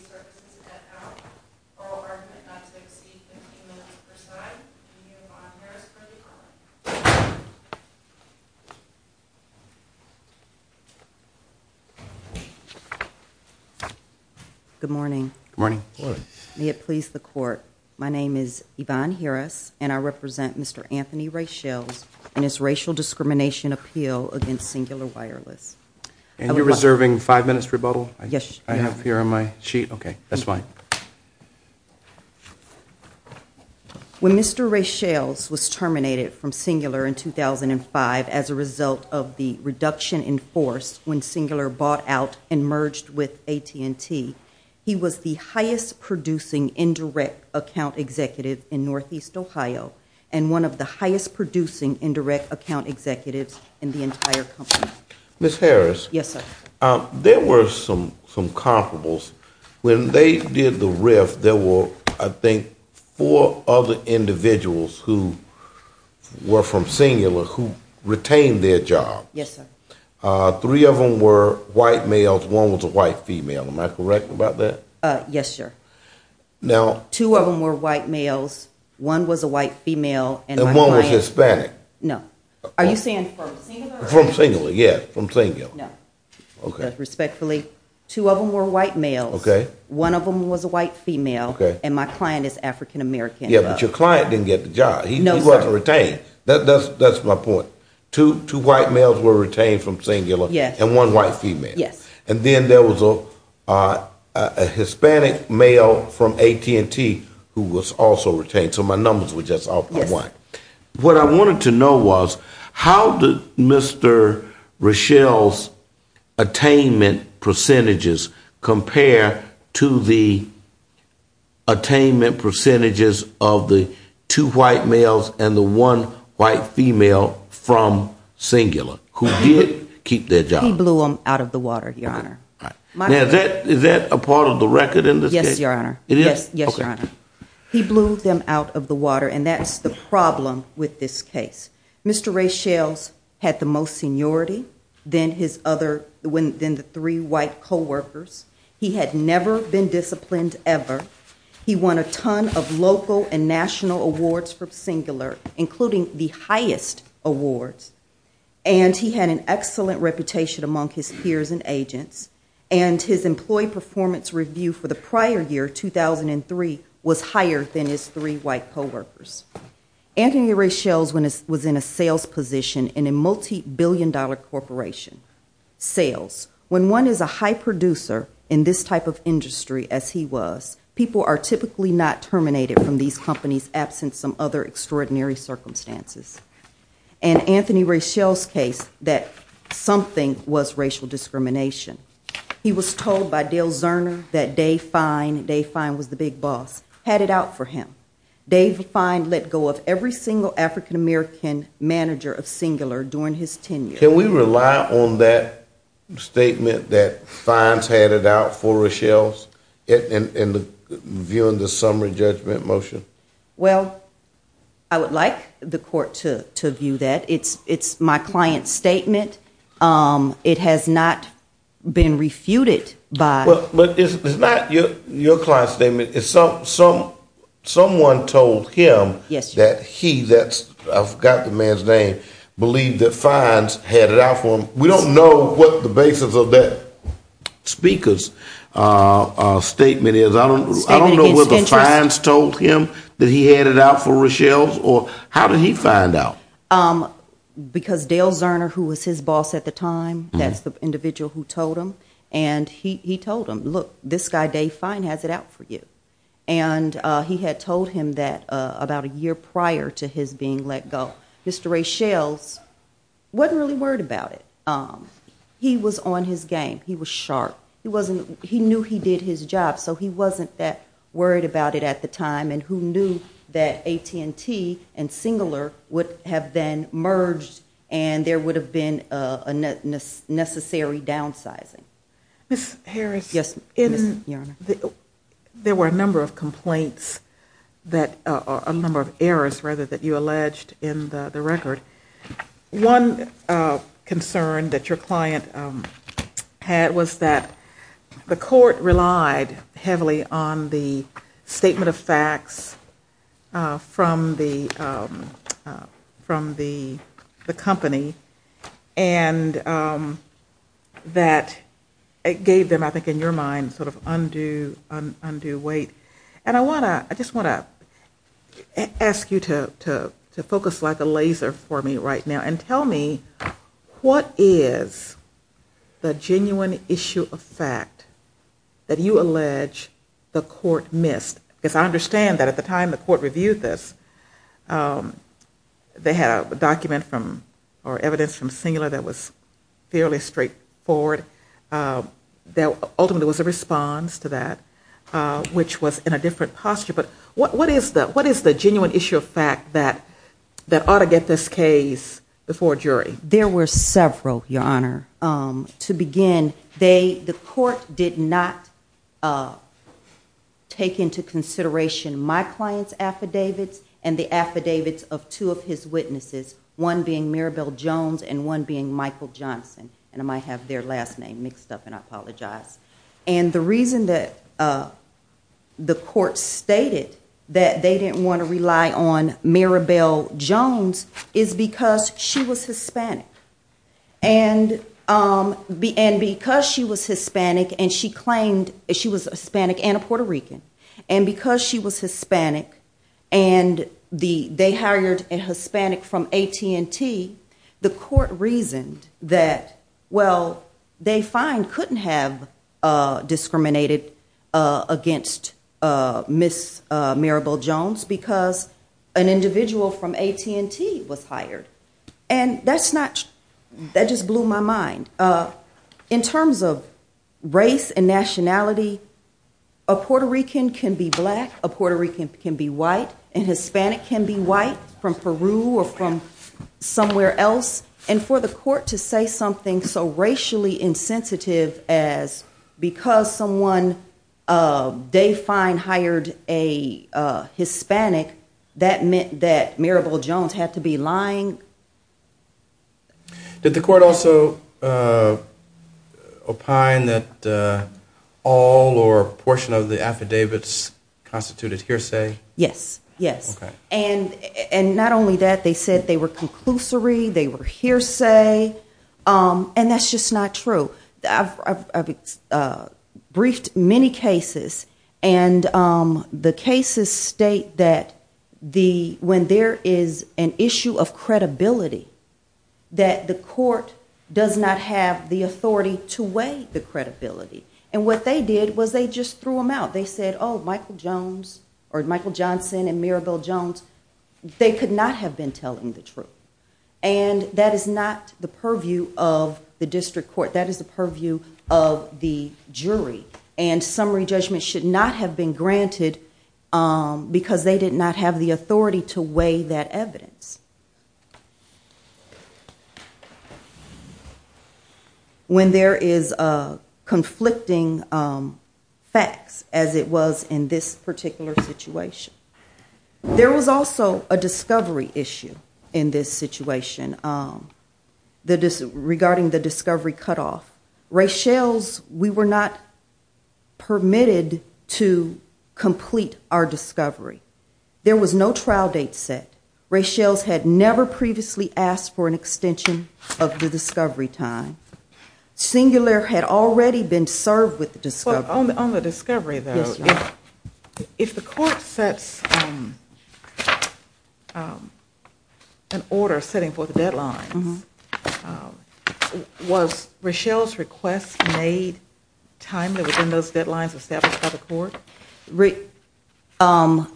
Services at that hour. Oral argument not to exceed 15 minutes per side. I'm Yvonne Harris for the call. Good morning. Good morning. May it please the court, my name is Yvonne Harris and I represent Mr. Anthony Rachells and his racial discrimination appeal against Cingular Wireless. And you're reserving five minutes rebuttal? Yes. I have here on my sheet. Okay, that's fine. When Mr. Rachells was terminated from Cingular in 2005 as a result of the reduction in force when Cingular bought out and merged with AT&T, he was the highest producing indirect account executive in Northeast Ohio and one of the highest producing indirect account executives in the entire company. Ms. Harris. Yes, sir. There were some comparables. When they did the rift, there were, I think, four other individuals who were from Cingular who retained their job. Yes, sir. Three of them were white males, one was a white female. Am I correct about that? Yes, sir. Two of them were white males, one was a white female. And one was Hispanic. No. Are you saying from Cingular? From Cingular, yes. From Cingular. No. Respectfully, two of them were white males. Okay. One of them was a white female. Okay. And my client is African American. Yeah, but your client didn't get the job. No, sir. He wasn't retained. That's my point. Two white males were retained from Cingular and one white female. Yes. And then there was a Hispanic male from AT&T who was also retained. So my numbers were just off by one. What I wanted to know was how did Mr. Rochelle's attainment percentages compare to the attainment percentages of the two white males and the one white female from Cingular who did keep their job? He blew them out of the water, Your Honor. Is that a part of the record in this case? Yes, Your Honor. It is? Yes, Your Honor. He blew them out of the water and that's the problem with this case. Mr. Rochelle's had the most seniority than the three white co-workers. He had never been disciplined ever. He won a ton of local and national awards for Cingular, including the highest awards. And he had an excellent reputation among his peers and agents. And his employee performance review for the prior year, 2003, was higher than his three white co-workers. Anthony Rochelle was in a sales position in a multi-billion dollar corporation. Sales. When one is a high producer in this type of industry, as he was, people are typically not terminated from these companies absent some other extraordinary circumstances. And Anthony Rochelle's case, that something was racial discrimination. He was told by Dale Zerner that Dave Fine, Dave Fine was the big boss, had it out for him. Dave Fine let go of every single African-American manager of Rochelle's in viewing the summary judgment motion. Well, I would like the court to view that. It's my client's statement. It has not been refuted by... But it's not your client's statement. Someone told him that he, I forgot the man's name, believed that Fines had it out for Rochelle's. I don't know where the Fines told him that he had it out for Rochelle's, or how did he find out? Because Dale Zerner, who was his boss at the time, that's the individual who told him. And he told him, look, this guy Dave Fine has it out for you. And he had told him that about a year prior to his being let go. Mr. Rochelle's wasn't really worried about it. He was on his game. He was sharp. He knew he did his job, so he wasn't that worried about it at the time. And who knew that AT&T and Singler would have then merged and there would have been a necessary downsizing. Ms. Harris, there were a number of complaints, a number of errors rather, that you alleged in the record. One concern that your client had was that the court relied heavily on the statement of facts from the company and that it gave them, I think in your mind, sort of a laser for me right now. And tell me what is the genuine issue of fact that you allege the court missed? Because I understand that at the time the court reviewed this, they had a document from, or evidence from Singler that was fairly straightforward. There ultimately was a response to that, which was in a different posture. But what is the genuine issue of fact that ought to get this case before a jury? There were several, Your Honor. To begin, the court did not take into consideration my client's affidavits and the affidavits of two of his witnesses, one being Mirabel Jones and one being Michael Johnson. And I might have their last name mixed up and I is because she was Hispanic. And because she was Hispanic and a Puerto Rican, and because she was Hispanic and they hired a Hispanic from AT&T, the court reasoned that, well, they find couldn't have discriminated against Ms. Mirabel Jones because an individual from AT&T was hired. And that's not, that just blew my mind. In terms of race and nationality, a Puerto Rican can be black, a Puerto Rican can be white, and Hispanic can be white from the court also opined that all or a portion of the affidavits constituted hearsay? Yes, yes. And not only that, they said they were conclusory, they were hearsay, and that's just not true. I've briefed many cases and the cases state that the, when there is an issue of credibility, that the court does not have the authority to weigh the credibility. And what they did was they just threw them out. They said, oh, Michael Jones or Michael Johnson and Mirabel Jones, they could not have been telling the truth. And that is not the purview of the district court. That is the purview of the jury. And summary judgment should not have been granted because they did not have the authority to weigh that evidence. When there is conflicting facts, as it was in this particular situation. There was also a discovery issue in this situation regarding the discovery cutoff. Ray Schell's, we were not permitted to complete our discovery. There was no trial date set. Ray Schell's had never previously asked for an extension of the discovery time. Singular had already been served with an order setting forth a deadline. Was Ray Schell's request made timely within those deadlines established by the court?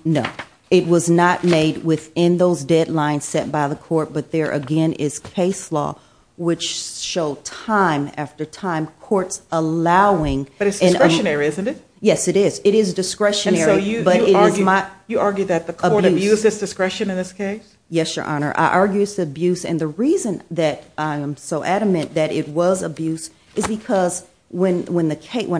No. It was not made within those deadlines set by the court, but there again is case law, which show time after time, courts allowing. But it's discretionary, isn't it? Yes, it is. It is discretionary, but it is not. You argue that the court abused its discretion in this case? Yes, Your Honor. I argue it's abuse. And the reason that I am so adamant that it was abuse is because when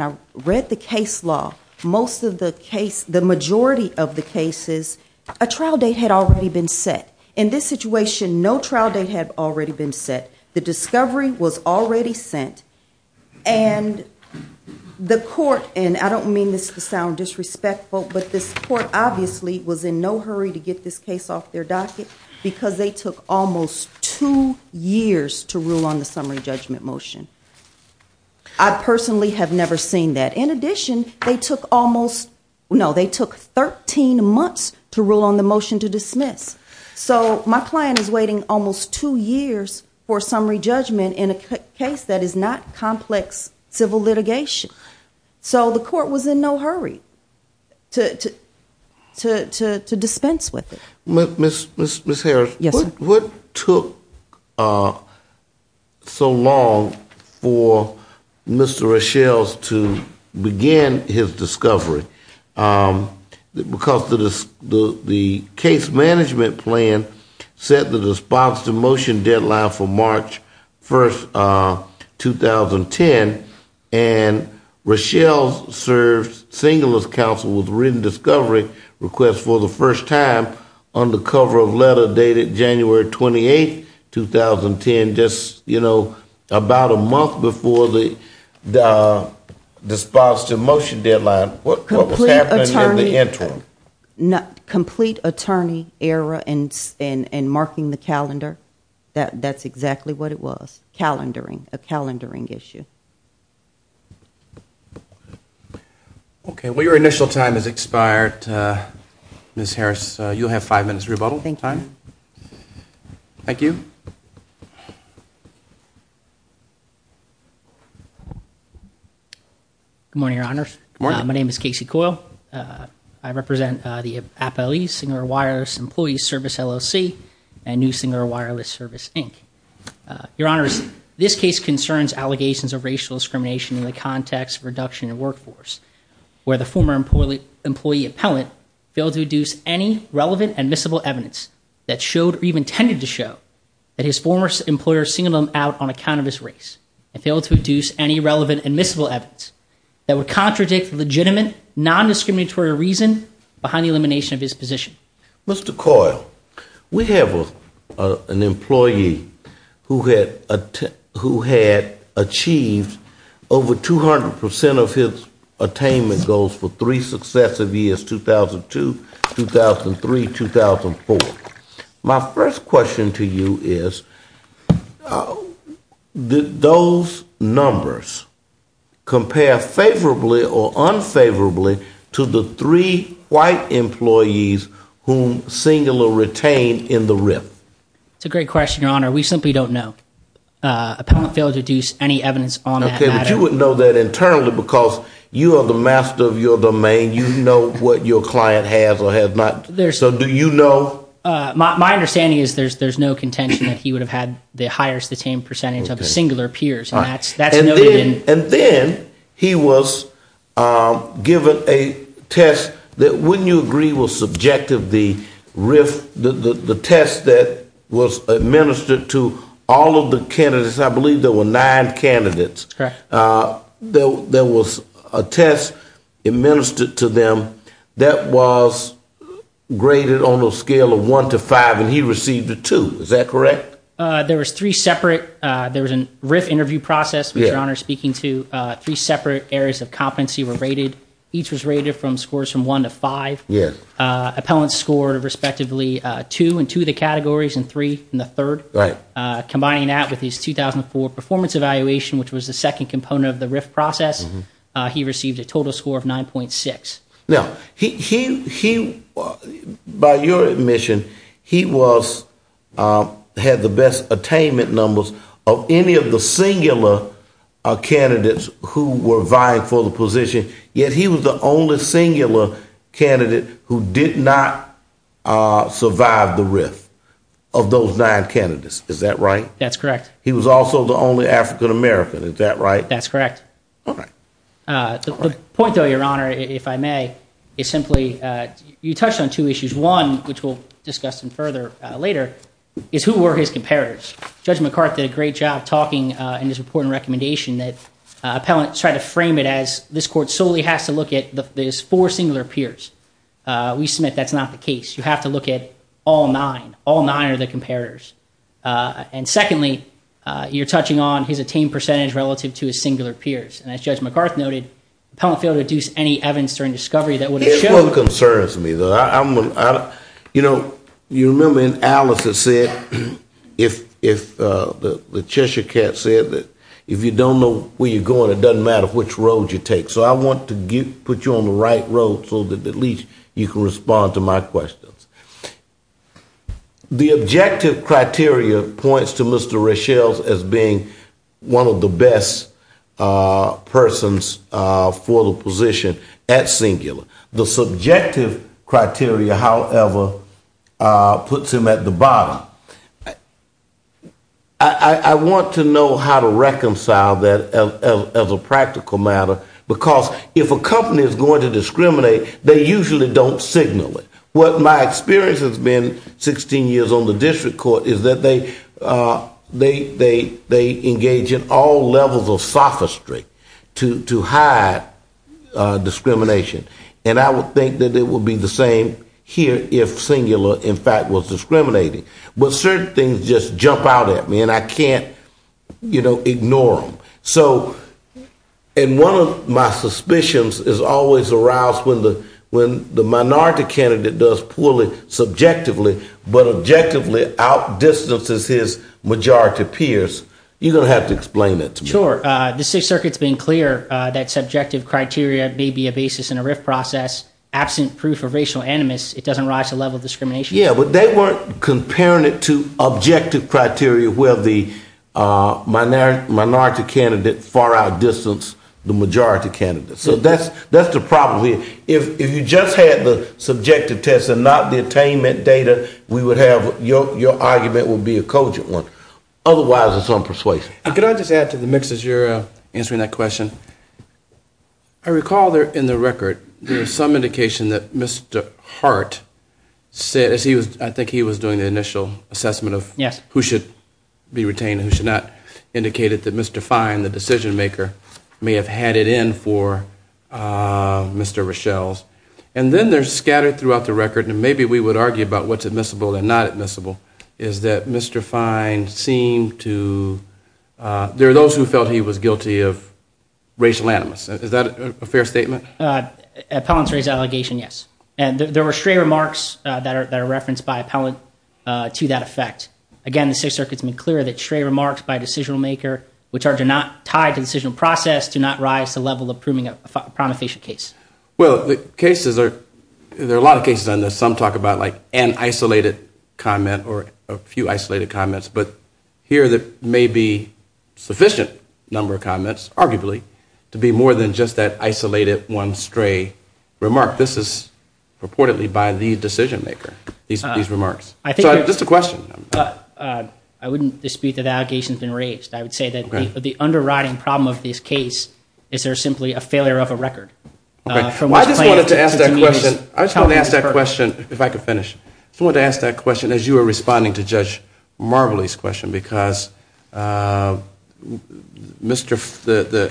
I read the case law, most of the case, the majority of the cases, a trial date had already been set. In this situation, no trial date had already been set. The discovery was already sent. And the court, and I don't mean this to sound disrespectful, but this court obviously was in no hurry to get this case off their docket because they took almost two years to rule on the summary judgment motion. I personally have never seen that. In addition, they took almost, no, they took 13 months to rule on the motion to dismiss. So my client is waiting almost two years for summary judgment in a case that is not complex civil litigation. So the court was in no hurry to dispense with it. Ms. Harris, what took so long for Mr. Reshells to begin his discovery? Because the case management plan said that the sponsored motion deadline for March 1, 2010, and Reshells served singular counsel with written discovery request for the first time under cover of letter dated January 28, 2010, just, you know, about a month before the sponsored motion deadline. What was happening in the interim? Complete attorney era and marking the calendar, that's exactly what it was, calendaring, a calendaring issue. Okay. Well, your initial time has expired, Ms. Harris. You'll have five minutes rebuttal time. Thank you. Good morning, Your Honors. My name is Casey Coyle. I represent the appellees, Singular Wireless Employee Service, LLC, and New Singular Wireless Service, Inc. Your Honors, this case concerns allegations of racial discrimination in the context of reduction in workforce, where the former employee appellant failed to deduce any relevant admissible evidence that showed or even tended to show that his former employer singled him out on account of his race and failed to deduce any relevant admissible evidence that would contradict the legitimate non-discriminatory reason behind the elimination of his position. Mr. Coyle, we have an employee who had achieved over 200% of his attainment goals for three successive years, 2002, 2003, 2004. My first question to you is, did those numbers compare favorably or unfavorably to the three white employees whom Singular retained in the RIP? It's a great question, Your Honor. We simply don't know. Appellant failed to deduce any evidence on that. Okay, but you would know that internally because you are the master of your domain. You know what your client has or has not. So do you know? My understanding is there's no contention that he would have had the highest attained percentage of Singular peers. And then he was given a test that, wouldn't you agree, was subjective, the test that was administered to all of the candidates. I believe there were nine candidates. There was a test administered to them that was graded on a scale of one to five, and he received a two. Is that correct? There was three separate, there was a RIF interview process, Your Honor, speaking to, three separate areas of competency were rated. Each was rated from scores from one to five. Yes. Appellants scored respectively two in two of the categories and three in the third. Right. Combining that with his 2004 performance evaluation, which was the second component of the RIF process, he received a total score of 9.6. He, by your admission, had the best attainment numbers of any of the singular candidates who were vying for the position, yet he was the only singular candidate who did not survive the RIF of those nine candidates. Is that right? That's correct. He was also the only African-American. Is that right? That's correct. The point, though, Your Honor, if I may, is simply you touched on two issues. One, which we'll discuss some further later, is who were his comparators? Judge McCarthy did a great job talking in his report and recommendation that appellants tried to frame it as this court solely has to look at these four singular peers. We submit that's not the case. You have to look at all nine. All nine are the comparators. And secondly, you're touching on his attained percentage relative to his singular peers. And as Judge McCarthy noted, appellant failed to deduce any evidence during discovery that would have shown— It concerns me, though. You know, you remember in Alice it said, if the Cheshire Cat said that if you don't know where you're going, it doesn't matter which road you take. So I want to put you on the right road so that at least you can respond to my questions. The objective criteria points to Mr. Racheles as being one of the best persons for the position at singular. The subjective criteria, however, puts him at the bottom. I want to know how to reconcile that as a practical matter because if a company is going to discriminate, they usually don't signal it. What my experience has been 16 years on the district court is that they engage in all levels of sophistry to hide discrimination. And I would think that it would be the same here if singular, in fact, was discriminating. But certain things just jump out at me, and I can't ignore them. And one of my suspicions is always aroused when the minority candidate does poorly subjectively but objectively outdistances his majority peers. You're going to have to explain that to me. Sure. The Sixth Circuit's been clear that subjective criteria may be a basis in a RIF process. Absent proof of racial animus, it doesn't rise to the level of discrimination. Yeah, but they weren't comparing it to objective criteria where the minority candidate far outdistanced the majority candidate. So that's the problem here. If you just had the subjective test and not the attainment data, we would have your argument would be a cogent one. Otherwise, it's on persuasion. Can I just add to the mix as you're answering that question? I recall in the record there was some indication that Mr. Hart, I think he was doing the initial assessment of who should be retained and who should not, indicated that Mr. Fine, the decision maker, may have had it in for Mr. Rochelle's. And then they're scattered throughout the record, and maybe we would argue about what's admissible and not admissible, is that Mr. Fine seemed to, there are those who felt he was guilty of racial animus. Is that a fair statement? Appellant's raised the allegation, yes. And there were stray remarks that are referenced by appellant to that effect. Again, the Sixth Circuit's been clear that stray remarks by a decisional maker, which are not tied to the decisional process, do not rise to the level of proving a prometheation case. Well, the cases are, there are a lot of cases on this. Some talk about like an isolated comment or a few isolated comments. But here there may be sufficient number of comments, arguably, to be more than just that isolated one stray remark. This is purportedly by the decision maker, these remarks. So just a question. I wouldn't dispute that the allegation's been raised. I would say that the underwriting problem of this case is there simply a failure of a record. I just wanted to ask that question, if I could finish. I just wanted to ask that question as you were responding to Judge Marbley's question, because the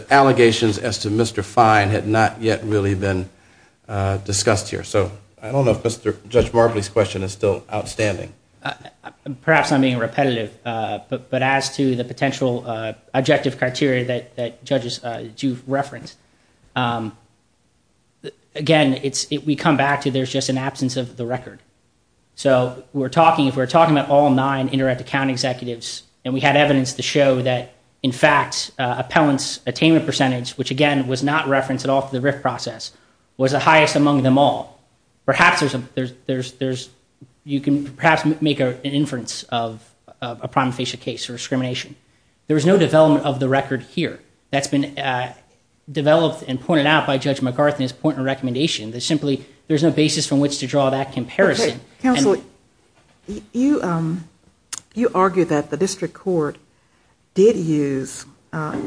allegations as to Mr. Fine had not yet really been discussed here. So I don't know if Judge Marbley's question is still outstanding. Perhaps I'm being repetitive, but as to the potential objective criteria that judges do reference, again, we come back to there's just an absence of the record. So we're talking, if we're talking about all nine indirect account executives, and we had evidence to show that, in fact, appellants' attainment percentage, which, again, was not referenced at all for the RIF process, was the highest among them all, perhaps you can perhaps make an inference of a prima facie case or discrimination. There was no development of the record here that's been developed and pointed out by Judge McArthur in his point of recommendation. There's simply no basis from which to draw that comparison. Counsel, you argue that the district court did use and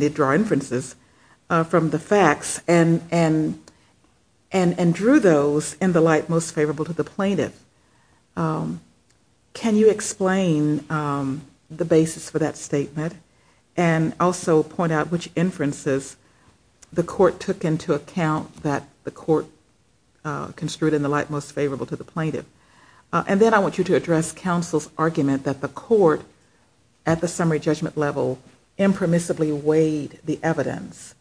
did draw inferences from the facts and drew those in the light most favorable to the plaintiff. Can you explain the basis for that statement and also point out which inferences the court took into account that the court construed in the light most favorable to the plaintiff? And then I want you to address counsel's argument that the court, at the summary judgment level, impermissibly weighed the evidence,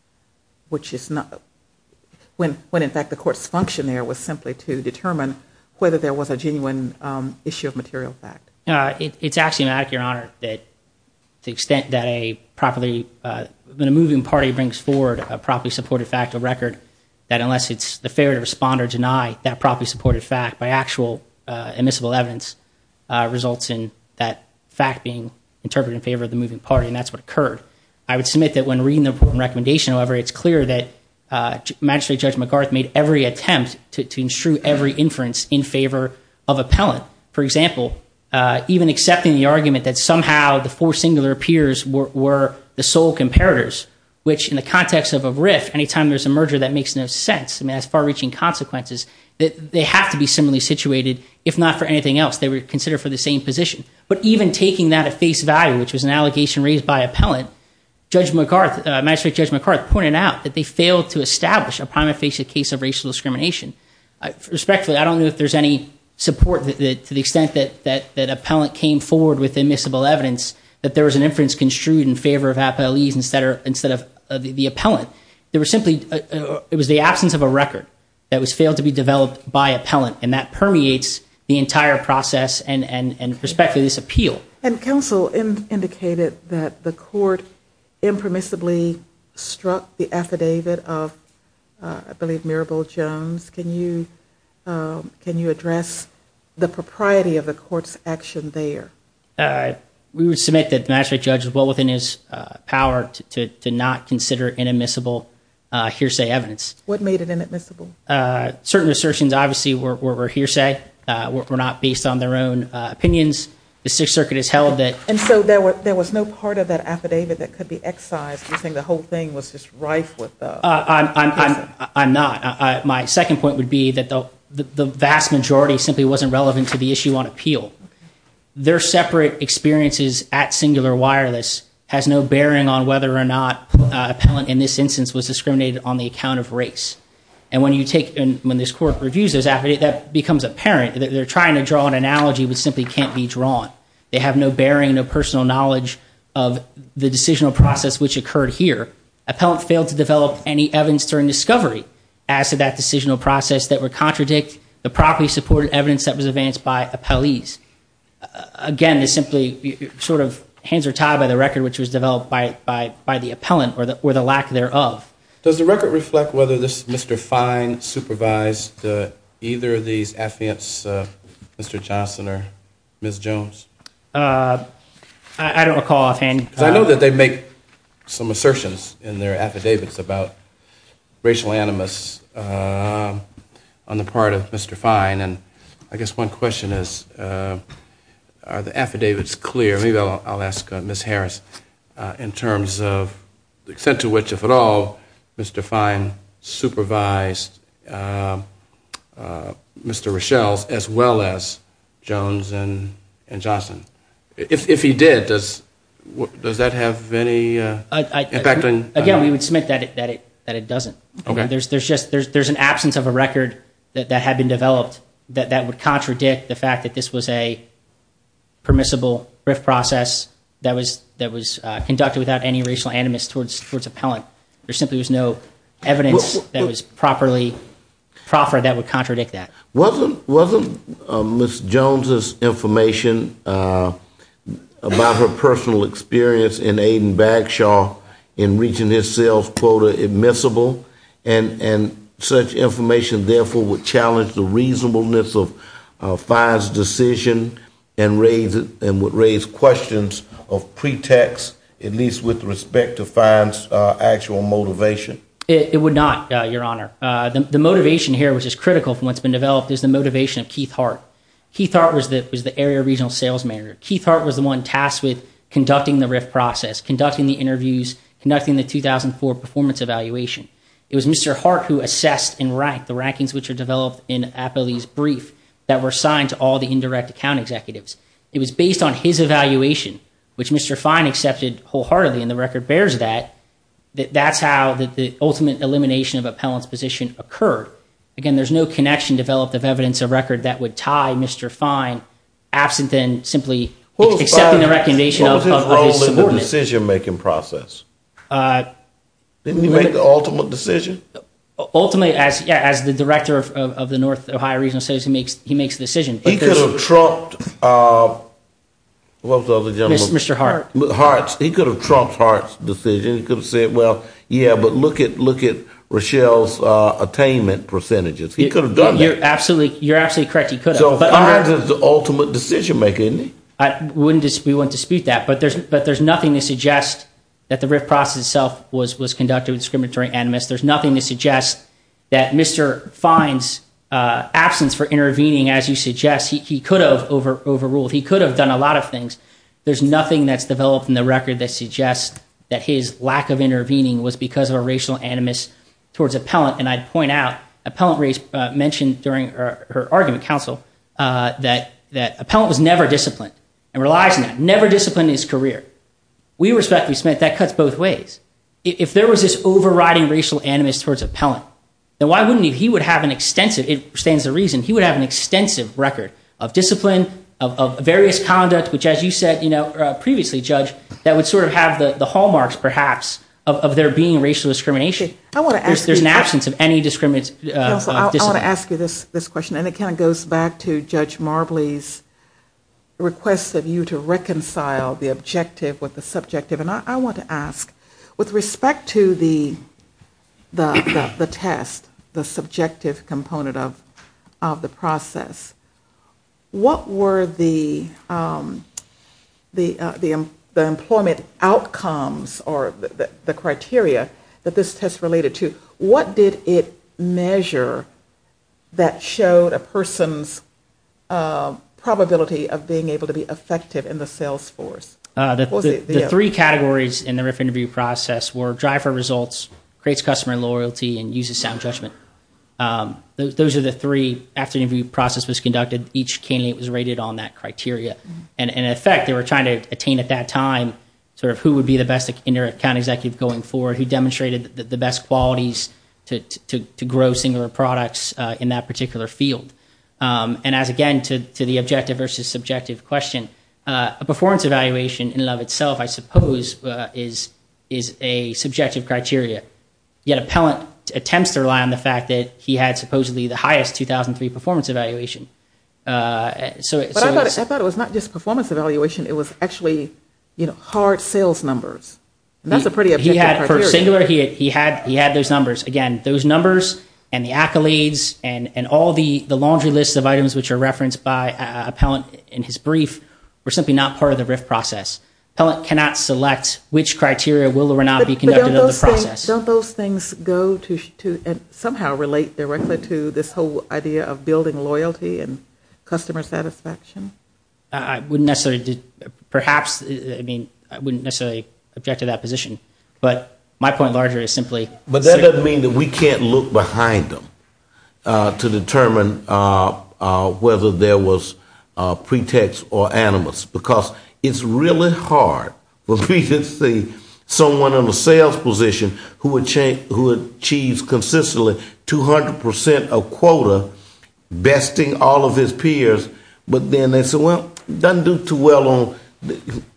which is notówhen, in fact, the court's function there was simply to determine whether there was a genuine issue of material fact. It's axiomatic, Your Honor, that the extent that a properlyówhen a moving party brings forward a properly supported fact or record, that unless it's the fair to respond or deny that properly supported fact, by actual admissible evidence results in that fact being interpreted in favor of the moving party, and that's what occurred. I would submit that when reading the recommendation, however, it's clear that Magistrate Judge McGarth made every attempt to instru every inference in favor of appellant. For example, even accepting the argument that somehow the four singular peers were the sole comparators, which in the context of a rift, any time there's a merger, that makes no sense. I mean, that's far-reaching consequences. They have to be similarly situated, if not for anything else. They were considered for the same position. But even taking that at face value, which was an allegation raised by appellant, Magistrate Judge McGarth pointed out that they failed to establish a prima facie case of racial discrimination. Respectfully, I don't know if there's any support to the extent that appellant came forward with admissible evidence that there was an inference construed in favor of appellees instead of the appellant. There were simplyóit was the absence of a record that was failed to be developed by appellant, and that permeates the entire process and perspective of this appeal. And counsel indicated that the court impermissibly struck the affidavit of, I believe, Mirabelle Jones. Can you address the propriety of the court's action there? We would submit that the magistrate judge was well within his power to not consider inadmissible hearsay evidence. What made it inadmissible? Certain assertions, obviously, were hearsay, were not based on their own opinions. The Sixth Circuit has held tható And so there was no part of that affidavit that could be excised. You're saying the whole thing was just rife withó I'm not. My second point would be that the vast majority simply wasn't relevant to the issue on appeal. Their separate experiences at Singular Wireless has no bearing on whether or not appellant, in this instance, was discriminated on the account of race. And when you takeóand when this court reviews this affidavit, that becomes apparent. They're trying to draw an analogy which simply can't be drawn. They have no bearing, no personal knowledge of the decisional process which occurred here. Appellant failed to develop any evidence during discovery as to that decisional process that would contradict the properly supported evidence that was advanced by appellees. Again, this simply sort of hands are tied by the record which was developed by the appellant or the lack thereof. Does the record reflect whether Mr. Fine supervised either of these affidavits, Mr. Johnson or Ms. Jones? I don't recall offhandó Because I know that they make some assertions in their affidavits about racial animus on the part of Mr. Fine. And I guess one question is, are the affidavits clear? Maybe I'll ask Ms. Harris, in terms of the extent to which, if at all, Mr. Fine supervised Mr. Rochelle's as well as Jones and Johnson. If he did, does that have any impact onó Again, we would submit that it doesn't. There's justóthere's an absence of a record that had been developed that would contradict the fact that this was a permissible brief process that was conducted without any racial animus towards appellant. There simply was no evidence that was properly proffered that would contradict that. Wasn't Ms. Jones's information about her personal experience in Aiden-Bagshaw in reaching this sales quota admissible? And such information, therefore, would challenge the reasonableness of Fine's decision and would raise questions of pretext, at least with respect to Fine's actual motivation? It would not, Your Honor. The motivation here, which is critical from what's been developed, is the motivation of Keith Hart. Keith Hart was the area regional sales manager. Keith Hart was the one tasked with conducting the RIF process, conducting the interviews, conducting the 2004 performance evaluation. It was Mr. Hart who assessed and ranked the rankings which were developed in Appellee's brief that were assigned to all the indirect account executives. It was based on his evaluation, which Mr. Fine accepted wholeheartedly, and the record bears that, that that's how the ultimate elimination of appellant's position occurred. Again, there's no connection developed of evidence or record that would tie Mr. Fine, absent then simply accepting the recommendation of his subordinates. What was his role in the decision-making process? Didn't he make the ultimate decision? Ultimately, as the director of the North Ohio Regional Sales, he makes the decision. He could have trumped both of the gentlemen. Mr. Hart. Hart. He could have trumped Hart's decision. He could have said, well, yeah, but look at Rochelle's attainment percentages. He could have done that. You're absolutely correct. He could have. But Hart is the ultimate decision-maker, isn't he? We wouldn't dispute that. But there's nothing to suggest that the RIF process itself was conducted with discriminatory animus. There's nothing to suggest that Mr. Fine's absence for intervening, as you suggest, he could have overruled. He could have done a lot of things. There's nothing that's developed in the record that suggests that his lack of intervening was because of a racial animus towards appellant. And I'd point out, appellant mentioned during her argument council that appellant was never disciplined and relies on that, never disciplined in his career. We respectfully submit that cuts both ways. If there was this overriding racial animus towards appellant, then why wouldn't he? It stands to reason he would have an extensive record of discipline, of various conduct, which, as you said previously, Judge, that would sort of have the hallmarks, perhaps, of there being racial discrimination. There's an absence of any discipline. I want to ask you this question, and it kind of goes back to Judge Marbley's request of you to reconcile the objective with the subjective. And I want to ask, with respect to the test, the subjective component of the process, what were the employment outcomes or the criteria that this test related to? What did it measure that showed a person's probability of being able to be effective in the sales force? The three categories in the RIF interview process were driver results, creates customer loyalty, and uses sound judgment. Those are the three. After the interview process was conducted, each candidate was rated on that criteria. And, in effect, they were trying to attain at that time sort of who would be the best inter-account executive going forward, who demonstrated the best qualities to grow singular products in that particular field. And as, again, to the objective versus subjective question, a performance evaluation in and of itself, I suppose, is a subjective criteria. Yet a pellant attempts to rely on the fact that he had supposedly the highest 2003 performance evaluation. But I thought it was not just performance evaluation. It was actually, you know, hard sales numbers. That's a pretty objective criteria. For singular, he had those numbers. Again, those numbers and the accolades and all the laundry lists of items which are referenced by a pellant in his brief were simply not part of the RIF process. A pellant cannot select which criteria will or will not be conducted in the process. But don't those things go to and somehow relate directly to this whole idea of building loyalty and customer satisfaction? I wouldn't necessarily, perhaps, I mean, I wouldn't necessarily object to that position. But my point larger is simply. But that doesn't mean that we can't look behind them to determine whether there was pretext or animus. Because it's really hard when we can see someone in the sales position who achieves consistently 200 percent of quota besting all of his peers. But then they say, well, it doesn't do too well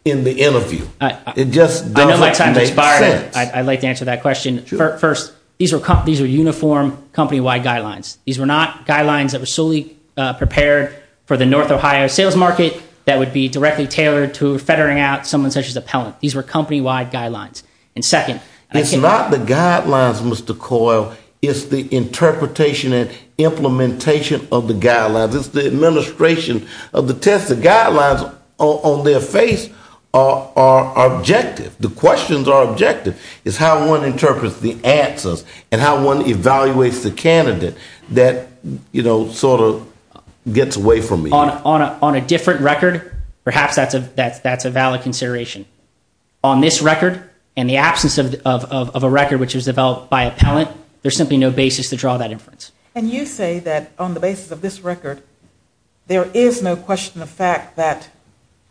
in the interview. It just doesn't make sense. I'd like to answer that question. First, these were uniform company-wide guidelines. These were not guidelines that were solely prepared for the North Ohio sales market that would be directly tailored to feathering out someone such as a pellant. These were company-wide guidelines. And second. It's not the guidelines, Mr. Coyle. It's the interpretation and implementation of the guidelines. It's the administration of the test. The guidelines on their face are objective. The questions are objective. It's how one interprets the answers and how one evaluates the candidate that, you know, sort of gets away from you. On a different record, perhaps that's a valid consideration. On this record and the absence of a record which was developed by a pellant, there's simply no basis to draw that inference. And you say that on the basis of this record, there is no question of fact that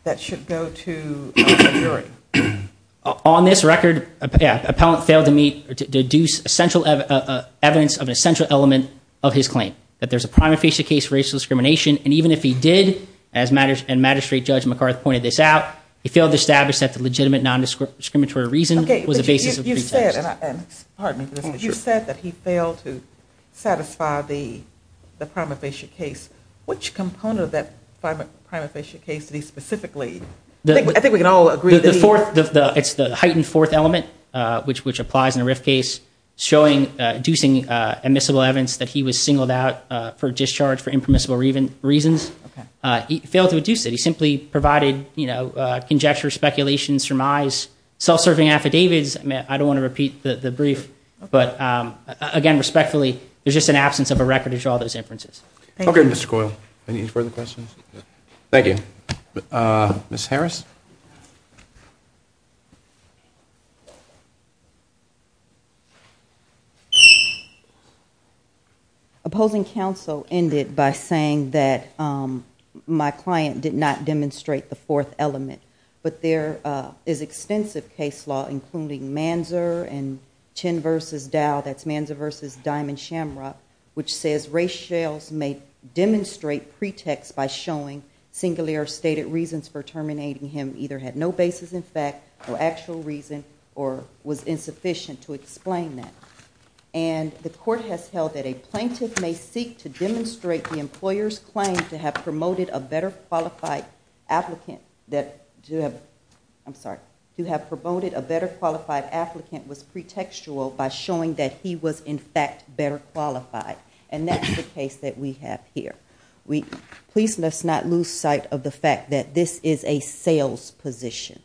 that should go to a jury. On this record, a pellant failed to meet or deduce essential evidence of an essential element of his claim. That there's a prima facie case for racial discrimination. And even if he did, as Magistrate Judge McCarthy pointed this out, he failed to establish that the legitimate nondiscriminatory reason was the basis of the pretext. You said that he failed to satisfy the prima facie case. Which component of that prima facie case did he specifically? I think we can all agree. It's the heightened fourth element, which applies in a RIF case. Showing, deducing admissible evidence that he was singled out for discharge for impermissible reasons. He failed to deduce it. He simply provided, you know, conjecture, speculation, surmise, self-serving affidavits. I don't want to repeat the brief. But again, respectfully, there's just an absence of a record to draw those inferences. Okay, Mr. Coyle. Any further questions? Thank you. Ms. Harris? Opposing counsel ended by saying that my client did not demonstrate the fourth element. But there is extensive case law, including Manzer and Chin v. Dow, that's Manzer v. Diamond-Shamrock, which says race shells may demonstrate pretext by showing singular stated reasons for terminating him either had no basis in fact, or actual reason, or was insufficient to explain that. And the court has held that a plaintiff may seek to demonstrate the employer's claim to have promoted a better qualified applicant, that to have, I'm sorry, to have promoted a better qualified applicant was pretextual by showing that he was in fact better qualified. And that's the case that we have here. Please let's not lose sight of the fact that this is a sales position.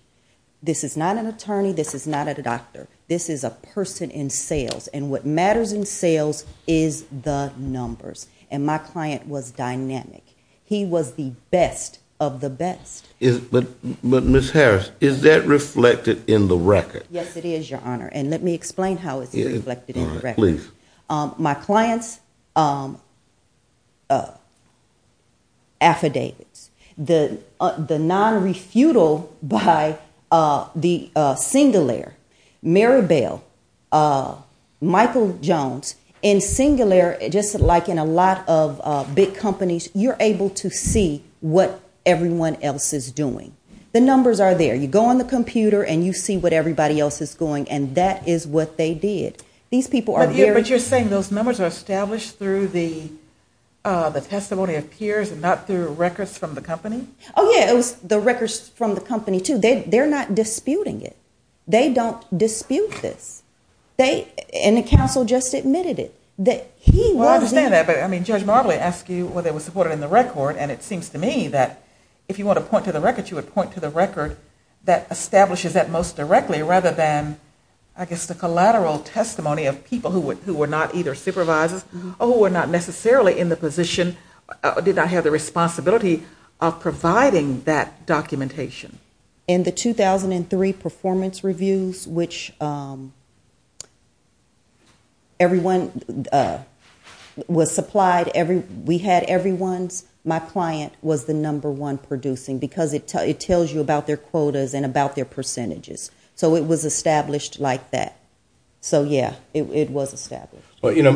This is not an attorney. This is not a doctor. This is a person in sales. And what matters in sales is the numbers. And my client was dynamic. He was the best of the best. But, Ms. Harris, is that reflected in the record? Yes, it is, Your Honor. And let me explain how it's reflected in the record. Please. My client's affidavits, the non-refutal by the singular, Maribel, Michael Jones in singular, just like in a lot of big companies, you're able to see what everyone else is doing. The numbers are there. You go on the computer and you see what everybody else is going. And that is what they did. But you're saying those numbers are established through the testimony of peers and not through records from the company? Oh, yeah. It was the records from the company, too. They're not disputing it. They don't dispute this. And the counsel just admitted it. Well, I understand that. But, I mean, Judge Marbley asked you whether it was supported in the record, and it seems to me that if you want to point to the record, you would point to the record that establishes that most directly rather than, I guess, the collateral testimony of people who were not either supervisors or who were not necessarily in the position or did not have the responsibility of providing that documentation. In the 2003 performance reviews, which everyone was supplied, we had everyone's, my client was the number one producing because it tells you about their quotas and about their percentages. So it was established like that. So, yeah, it was established. Well, you know,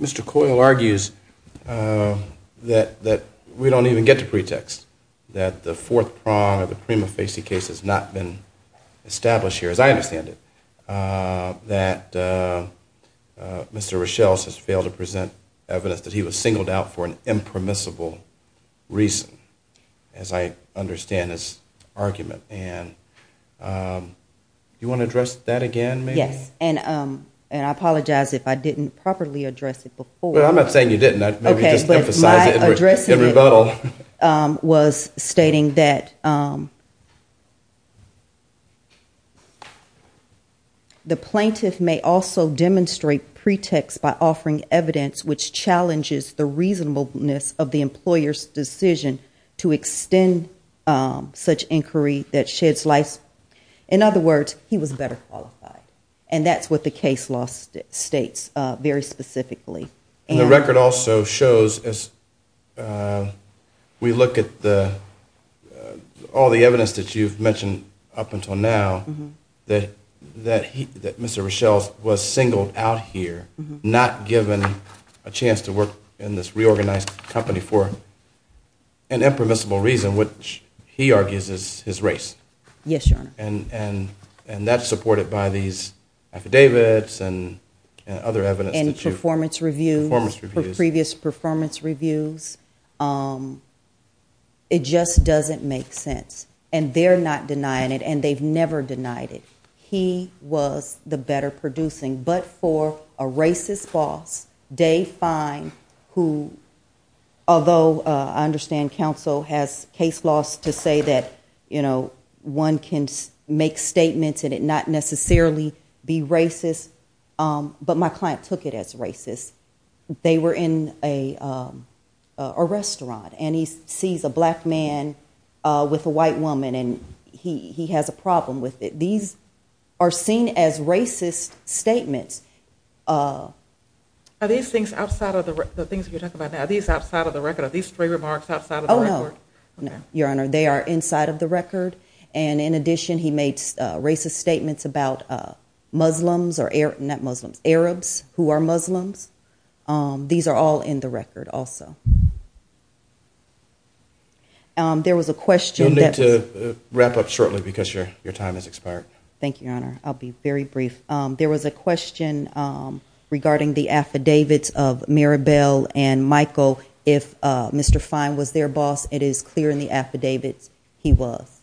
Mr. Coyle argues that we don't even get to pretext, that the fourth prong of the prima facie case has not been established here, as I understand it, that Mr. Rochelle has failed to present evidence that he was singled out for an impermissible reason, as I understand his argument. And you want to address that again, maybe? Yes. And I apologize if I didn't properly address it before. Well, I'm not saying you didn't. But my addressing it was stating that the plaintiff may also demonstrate pretext by offering evidence which challenges the reasonableness of the employer's decision to extend such inquiry that sheds light. In other words, he was better qualified. And that's what the case law states very specifically. And the record also shows, as we look at all the evidence that you've mentioned up until now, that Mr. Rochelle was singled out here, not given a chance to work in this reorganized company for an impermissible reason, which he argues is his race. Yes, Your Honor. And that's supported by these affidavits and other evidence. And performance reviews, previous performance reviews. It just doesn't make sense. And they're not denying it, and they've never denied it. He was the better producing. But for a racist boss, Dave Fine, who although I understand counsel has case laws to say that, you know, one can make statements and it not necessarily be racist. But my client took it as racist. They were in a restaurant, and he sees a black man with a white woman, and he has a problem with it. These are seen as racist statements. Are these things outside of the record? The things that you're talking about now, are these outside of the record? Are these stray remarks outside of the record? Oh, no. No, Your Honor. They are inside of the record. And in addition, he made racist statements about Muslims, not Muslims, Arabs who are Muslims. These are all in the record also. There was a question. You'll need to wrap up shortly because your time has expired. Thank you, Your Honor. I'll be very brief. There was a question regarding the affidavits of Maribel and Michael. If Mr. Fine was their boss, it is clear in the affidavits he was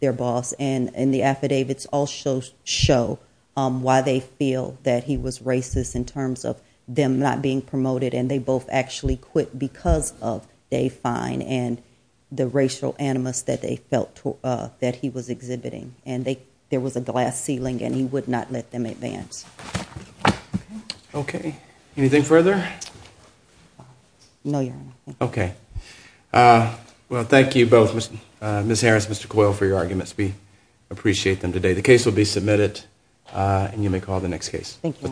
their boss. And the affidavits also show why they feel that he was racist in terms of them not being promoted, and they both actually quit because of Dave Fine and the racial animus that they felt that he was exhibiting. And there was a glass ceiling, and he would not let them advance. Okay. Anything further? No, Your Honor. Okay. Well, thank you both, Ms. Harris, Mr. Coyle, for your arguments. We appreciate them today. The case will be submitted, and you may call the next case. Thank you.